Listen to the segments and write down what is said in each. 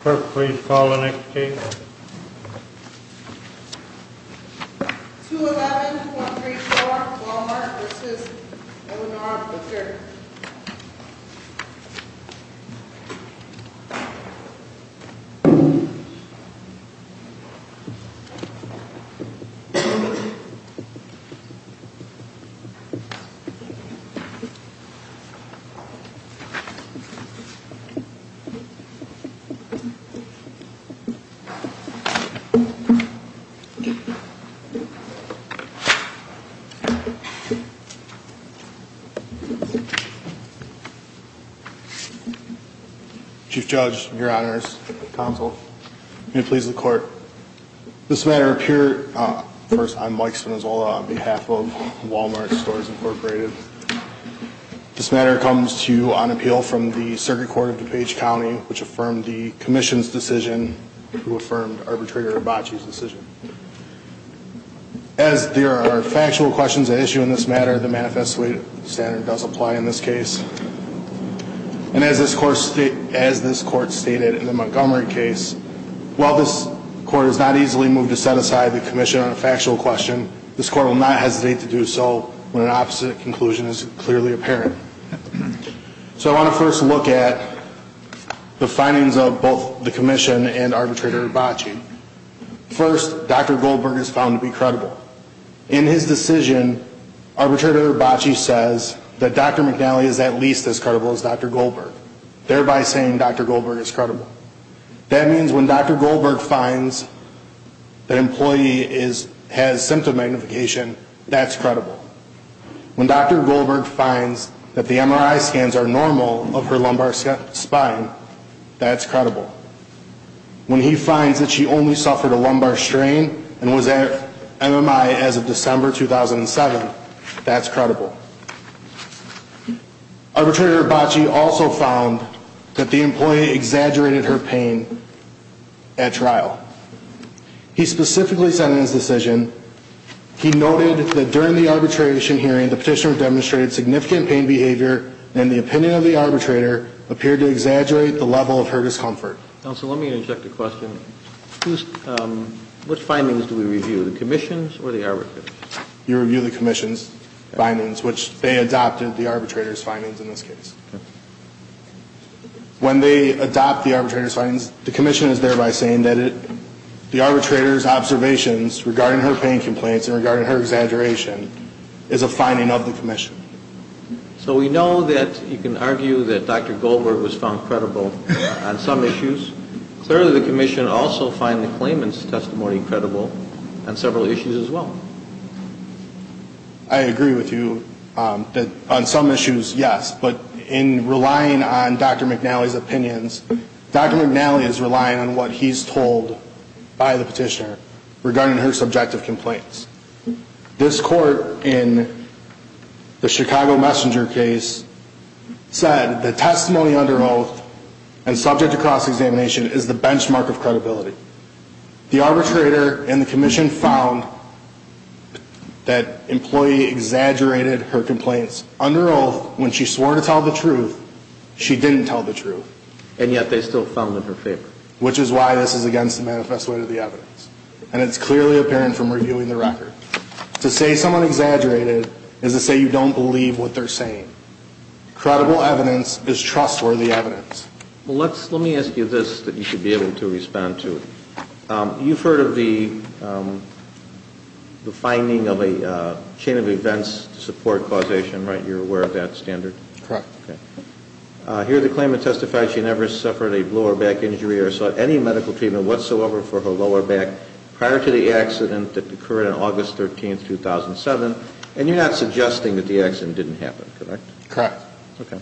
Clerk, please call the next case. 211-234-Wal-Mart v. Eleanor Butler Chief Judge, your honors, counsel, may it please the court. This matter appears, first I'm Mike Spinozola on behalf of Wal-Mart Stores Incorporated. This matter comes to you on appeal from the Circuit Court of DuPage County, which affirmed the Commission's decision to affirm Arbitrator Abbaci's decision. As there are factual questions at issue in this matter, the manifesto standard does apply in this case. And as this court stated in the Montgomery case, while this court has not easily moved to set aside the commission on a factual question, this court will not hesitate to do so when an opposite conclusion is clearly apparent. So I want to first look at the findings of both the commission and Arbitrator Abbaci. First, Dr. Goldberg is found to be credible. In his decision, Arbitrator Abbaci says that Dr. McNally is at least as credible as Dr. Goldberg, thereby saying Dr. Goldberg is credible. That means when Dr. Goldberg finds that an employee has symptom magnification, that's credible. When Dr. Goldberg finds that the MRI scans are normal of her lumbar spine, that's credible. When he finds that she only suffered a lumbar strain and was at MMI as of December 2007, that's credible. Arbitrator Abbaci also found that the employee exaggerated her pain at trial. He specifically said in his decision, he noted that during the arbitration hearing the petitioner demonstrated significant pain behavior and the opinion of the arbitrator appeared to exaggerate the level of her discomfort. Counsel, let me interject a question. Which findings do we review, the commission's or the arbitrator's? You review the commission's findings, which they adopted the arbitrator's findings in this case. When they adopt the arbitrator's findings, the commission is thereby saying that the arbitrator's observations regarding her pain complaints and regarding her exaggeration is a finding of the commission. So we know that you can argue that Dr. Goldberg was found credible on some issues. Clearly, the commission also finds the claimant's testimony credible on several issues as well. I agree with you that on some issues, yes, but in relying on Dr. McNally's opinions, Dr. McNally is relying on what he's told by the petitioner regarding her subjective complaints. This court in the Chicago Messenger case said the testimony under oath and subject to cross-examination is the benchmark of credibility. The arbitrator and the commission found that employee exaggerated her complaints. Under oath, when she swore to tell the truth, she didn't tell the truth. And yet they still found in her favor. Which is why this is against the manifesto of the evidence. And it's clearly apparent from reviewing the record. To say someone exaggerated is to say you don't believe what they're saying. Credible evidence is trustworthy evidence. Let me ask you this that you should be able to respond to. You've heard of the finding of a chain of events to support causation, right? You're aware of that standard? Correct. Okay. Here the claimant testified she never suffered a lower back injury or saw any medical treatment whatsoever for her lower back prior to the accident that occurred on August 13, 2007. And you're not suggesting that the accident didn't happen, correct? Correct. Okay.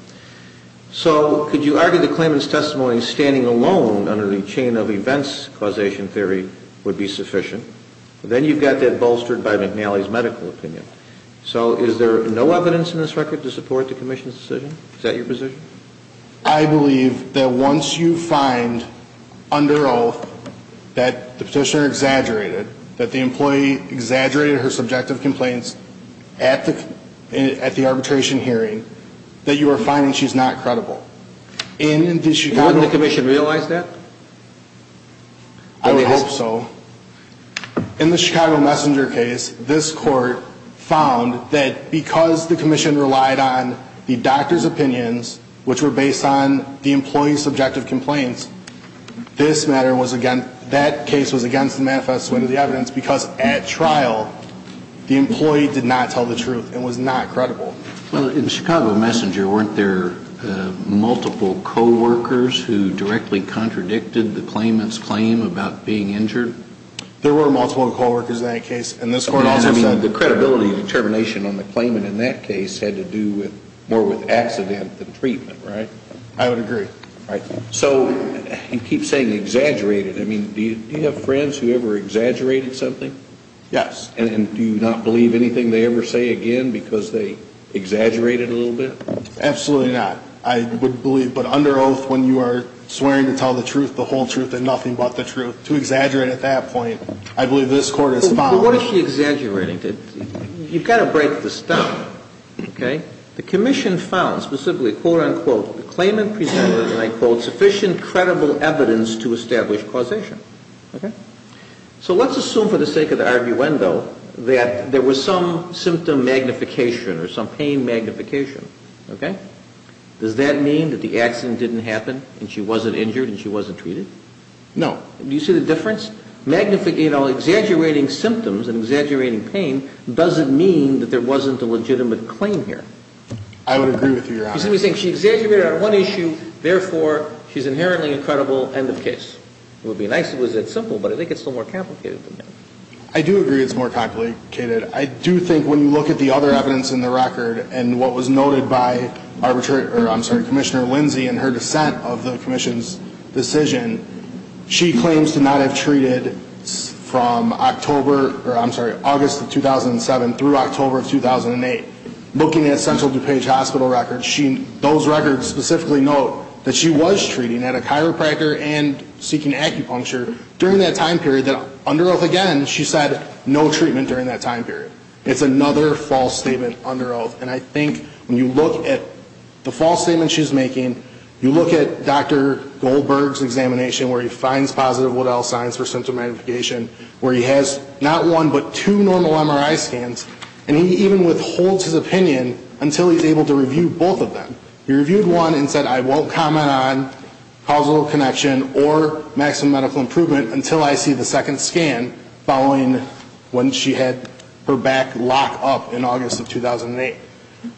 So could you argue the claimant's testimony standing alone under the chain of events causation theory would be sufficient? Then you've got that bolstered by McNally's medical opinion. So is there no evidence in this record to support the commission's decision? Is that your position? I believe that once you find under oath that the petitioner exaggerated, that the employee exaggerated her subjective complaints at the arbitration hearing, that you are finding she's not credible. Wouldn't the commission realize that? I would hope so. In the Chicago Messenger case, this court found that because the commission relied on the doctor's opinions, which were based on the employee's subjective complaints, that case was against the manifesto of the evidence because at trial the employee did not tell the truth and was not credible. Well, in Chicago Messenger, weren't there multiple co-workers who directly contradicted the claimant's claim about being injured? There were multiple co-workers in that case. The credibility and determination on the claimant in that case had to do more with accident than treatment, right? I would agree. So you keep saying exaggerated. Do you have friends who ever exaggerated something? Yes. And do you not believe anything they ever say again because they exaggerated a little bit? Absolutely not. I would believe. But under oath, when you are swearing to tell the truth, the whole truth and nothing but the truth, to exaggerate at that point, I believe this court has found. What is she exaggerating? You've got to break the stump. Okay? The commission found specifically, quote, unquote, the claimant presented, and I quote, sufficient credible evidence to establish causation. Okay? So let's assume for the sake of the arguendo that there was some symptom magnification or some pain magnification. Okay? Does that mean that the accident didn't happen and she wasn't injured and she wasn't treated? No. Do you see the difference? You know, exaggerating symptoms and exaggerating pain doesn't mean that there wasn't a legitimate claim here. I would agree with you. You see what I'm saying? She exaggerated on one issue. Therefore, she's inherently a credible end of case. It would be nice if it was that simple, but I think it's still more complicated than that. I do agree it's more complicated. I do think when you look at the other evidence in the record and what was noted by Commissioner Lindsey and her dissent of the commission's decision, she claims to not have treated from October, or I'm sorry, August of 2007 through October of 2008. Looking at Central DuPage Hospital records, those records specifically note that she was treating at a chiropractor and seeking acupuncture during that time period. Under oath again, she said no treatment during that time period. It's another false statement under oath, and I think when you look at the false statement she's making, you look at Dr. Goldberg's examination where he finds positive Waddell signs for symptom magnification, where he has not one but two normal MRI scans, and he even withholds his opinion until he's able to review both of them. He reviewed one and said, I won't comment on causal connection or maximum medical improvement until I see the second scan, following when she had her back locked up in August of 2008.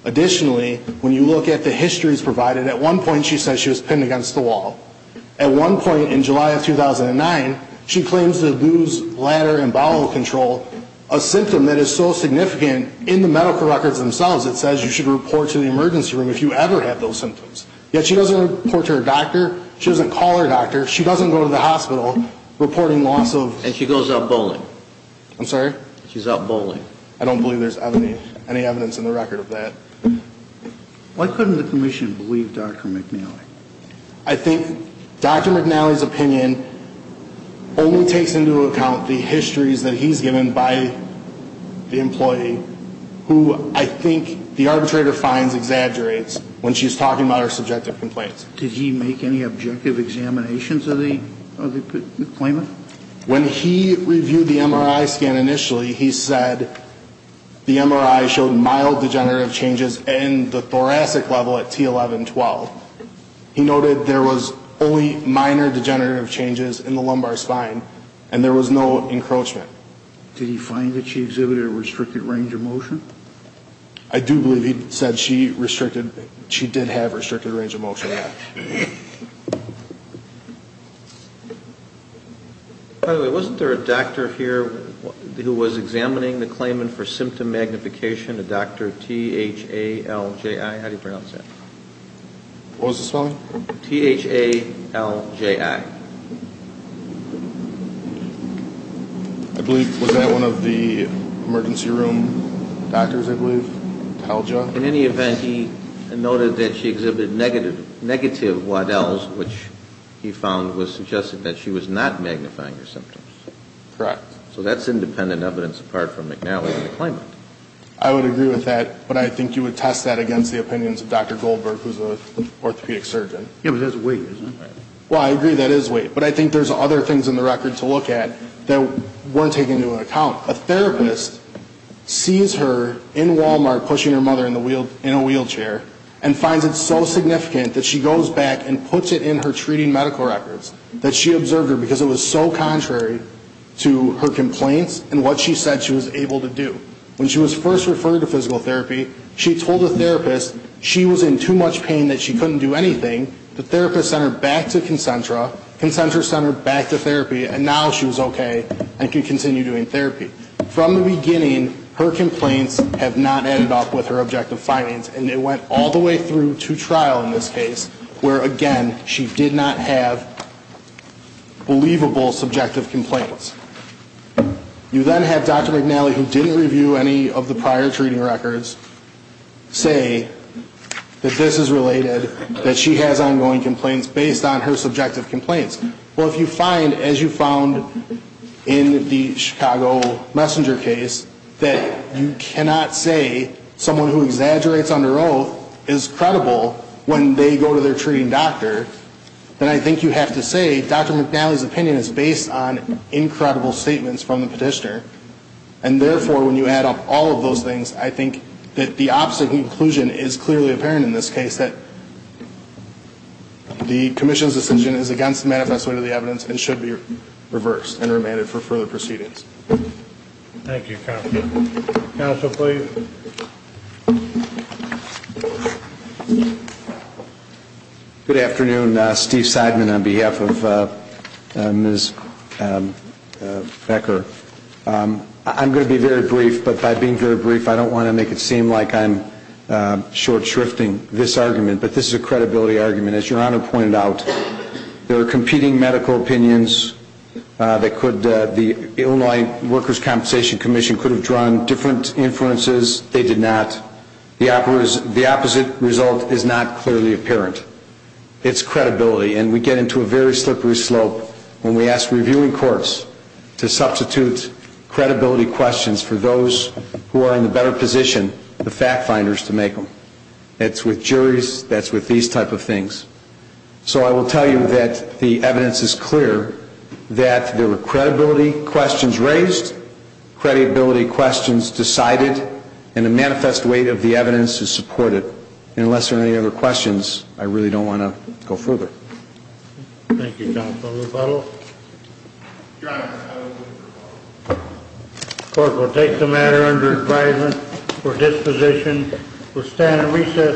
Additionally, when you look at the histories provided, at one point she says she was pinned against the wall. At one point in July of 2009, she claims to lose bladder and bowel control, a symptom that is so significant in the medical records themselves it says you should report to the emergency room if you ever have those symptoms. Yet she doesn't report to her doctor, she doesn't call her doctor, she doesn't go to the hospital reporting loss of... And she goes out bowling. I'm sorry? She's out bowling. I don't believe there's any evidence in the record of that. Why couldn't the commission believe Dr. McNeely? I think Dr. McNeely's opinion only takes into account the histories that he's given by the employee, who I think the arbitrator finds exaggerates when she's talking about her subjective complaints. Did he make any objective examinations of the claimant? When he reviewed the MRI scan initially, he said the MRI showed mild degenerative changes in the thoracic level at T11-12. He noted there was only minor degenerative changes in the lumbar spine and there was no encroachment. Did he find that she exhibited a restricted range of motion? I do believe he said she restricted, she did have restricted range of motion, yes. By the way, wasn't there a doctor here who was examining the claimant for symptom magnification, a doctor, T-H-A-L-J-I? How do you pronounce that? What was the spelling? T-H-A-L-J-I. I believe, was that one of the emergency room doctors, I believe? In any event, he noted that she exhibited negative Waddells, which he found was suggesting that she was not magnifying her symptoms. Correct. So that's independent evidence apart from McNeely and the claimant. I would agree with that, but I think you would test that against the opinions of Dr. Goldberg, who's an orthopedic surgeon. Yeah, but that's weight, isn't it? Well, I agree that is weight, but I think there's other things in the record to look at that weren't taken into account. A therapist sees her in Walmart pushing her mother in a wheelchair and finds it so significant that she goes back and puts it in her treating medical records, that she observed her because it was so contrary to her complaints and what she said she was able to do. When she was first referred to physical therapy, she told the therapist she was in too much pain that she couldn't do anything. The therapist sent her back to Concentra, Concentra sent her back to therapy, and now she was okay and could continue doing therapy. From the beginning, her complaints have not ended up with her objective findings, and it went all the way through to trial in this case, where, again, she did not have believable subjective complaints. You then have Dr. McNally, who didn't review any of the prior treating records, say that this is related, that she has ongoing complaints based on her subjective complaints. Well, if you find, as you found in the Chicago Messenger case, that you cannot say someone who exaggerates under oath is credible when they go to their treating doctor, then I think you have to say Dr. McNally's opinion is based on incredible statements from the petitioner. And therefore, when you add up all of those things, I think that the opposite conclusion is clearly apparent in this case, that the commission's decision is against the manifestation of the evidence and should be reversed and remanded for further proceedings. Thank you, counsel. Counsel, please. Good afternoon. Steve Seidman on behalf of Ms. Becker. I'm going to be very brief, but by being very brief, I don't want to make it seem like I'm short shrifting this argument, but this is a credibility argument. As Your Honor pointed out, there are competing medical opinions that the Illinois Workers' Compensation Commission could have drawn different inferences. They did not. The opposite result is not clearly apparent. It's credibility, and we get into a very slippery slope when we ask reviewing courts to substitute credibility questions for those who are in the better position, the fact-finders, to make them. It's with juries. That's with these type of things. So I will tell you that the evidence is clear that there were credibility questions raised, credibility questions decided, and the manifest weight of the evidence is supported. And unless there are any other questions, I really don't want to go further. Thank you, counsel. Rebuttal. The court will take the matter under advisement for disposition. We'll stand at recess.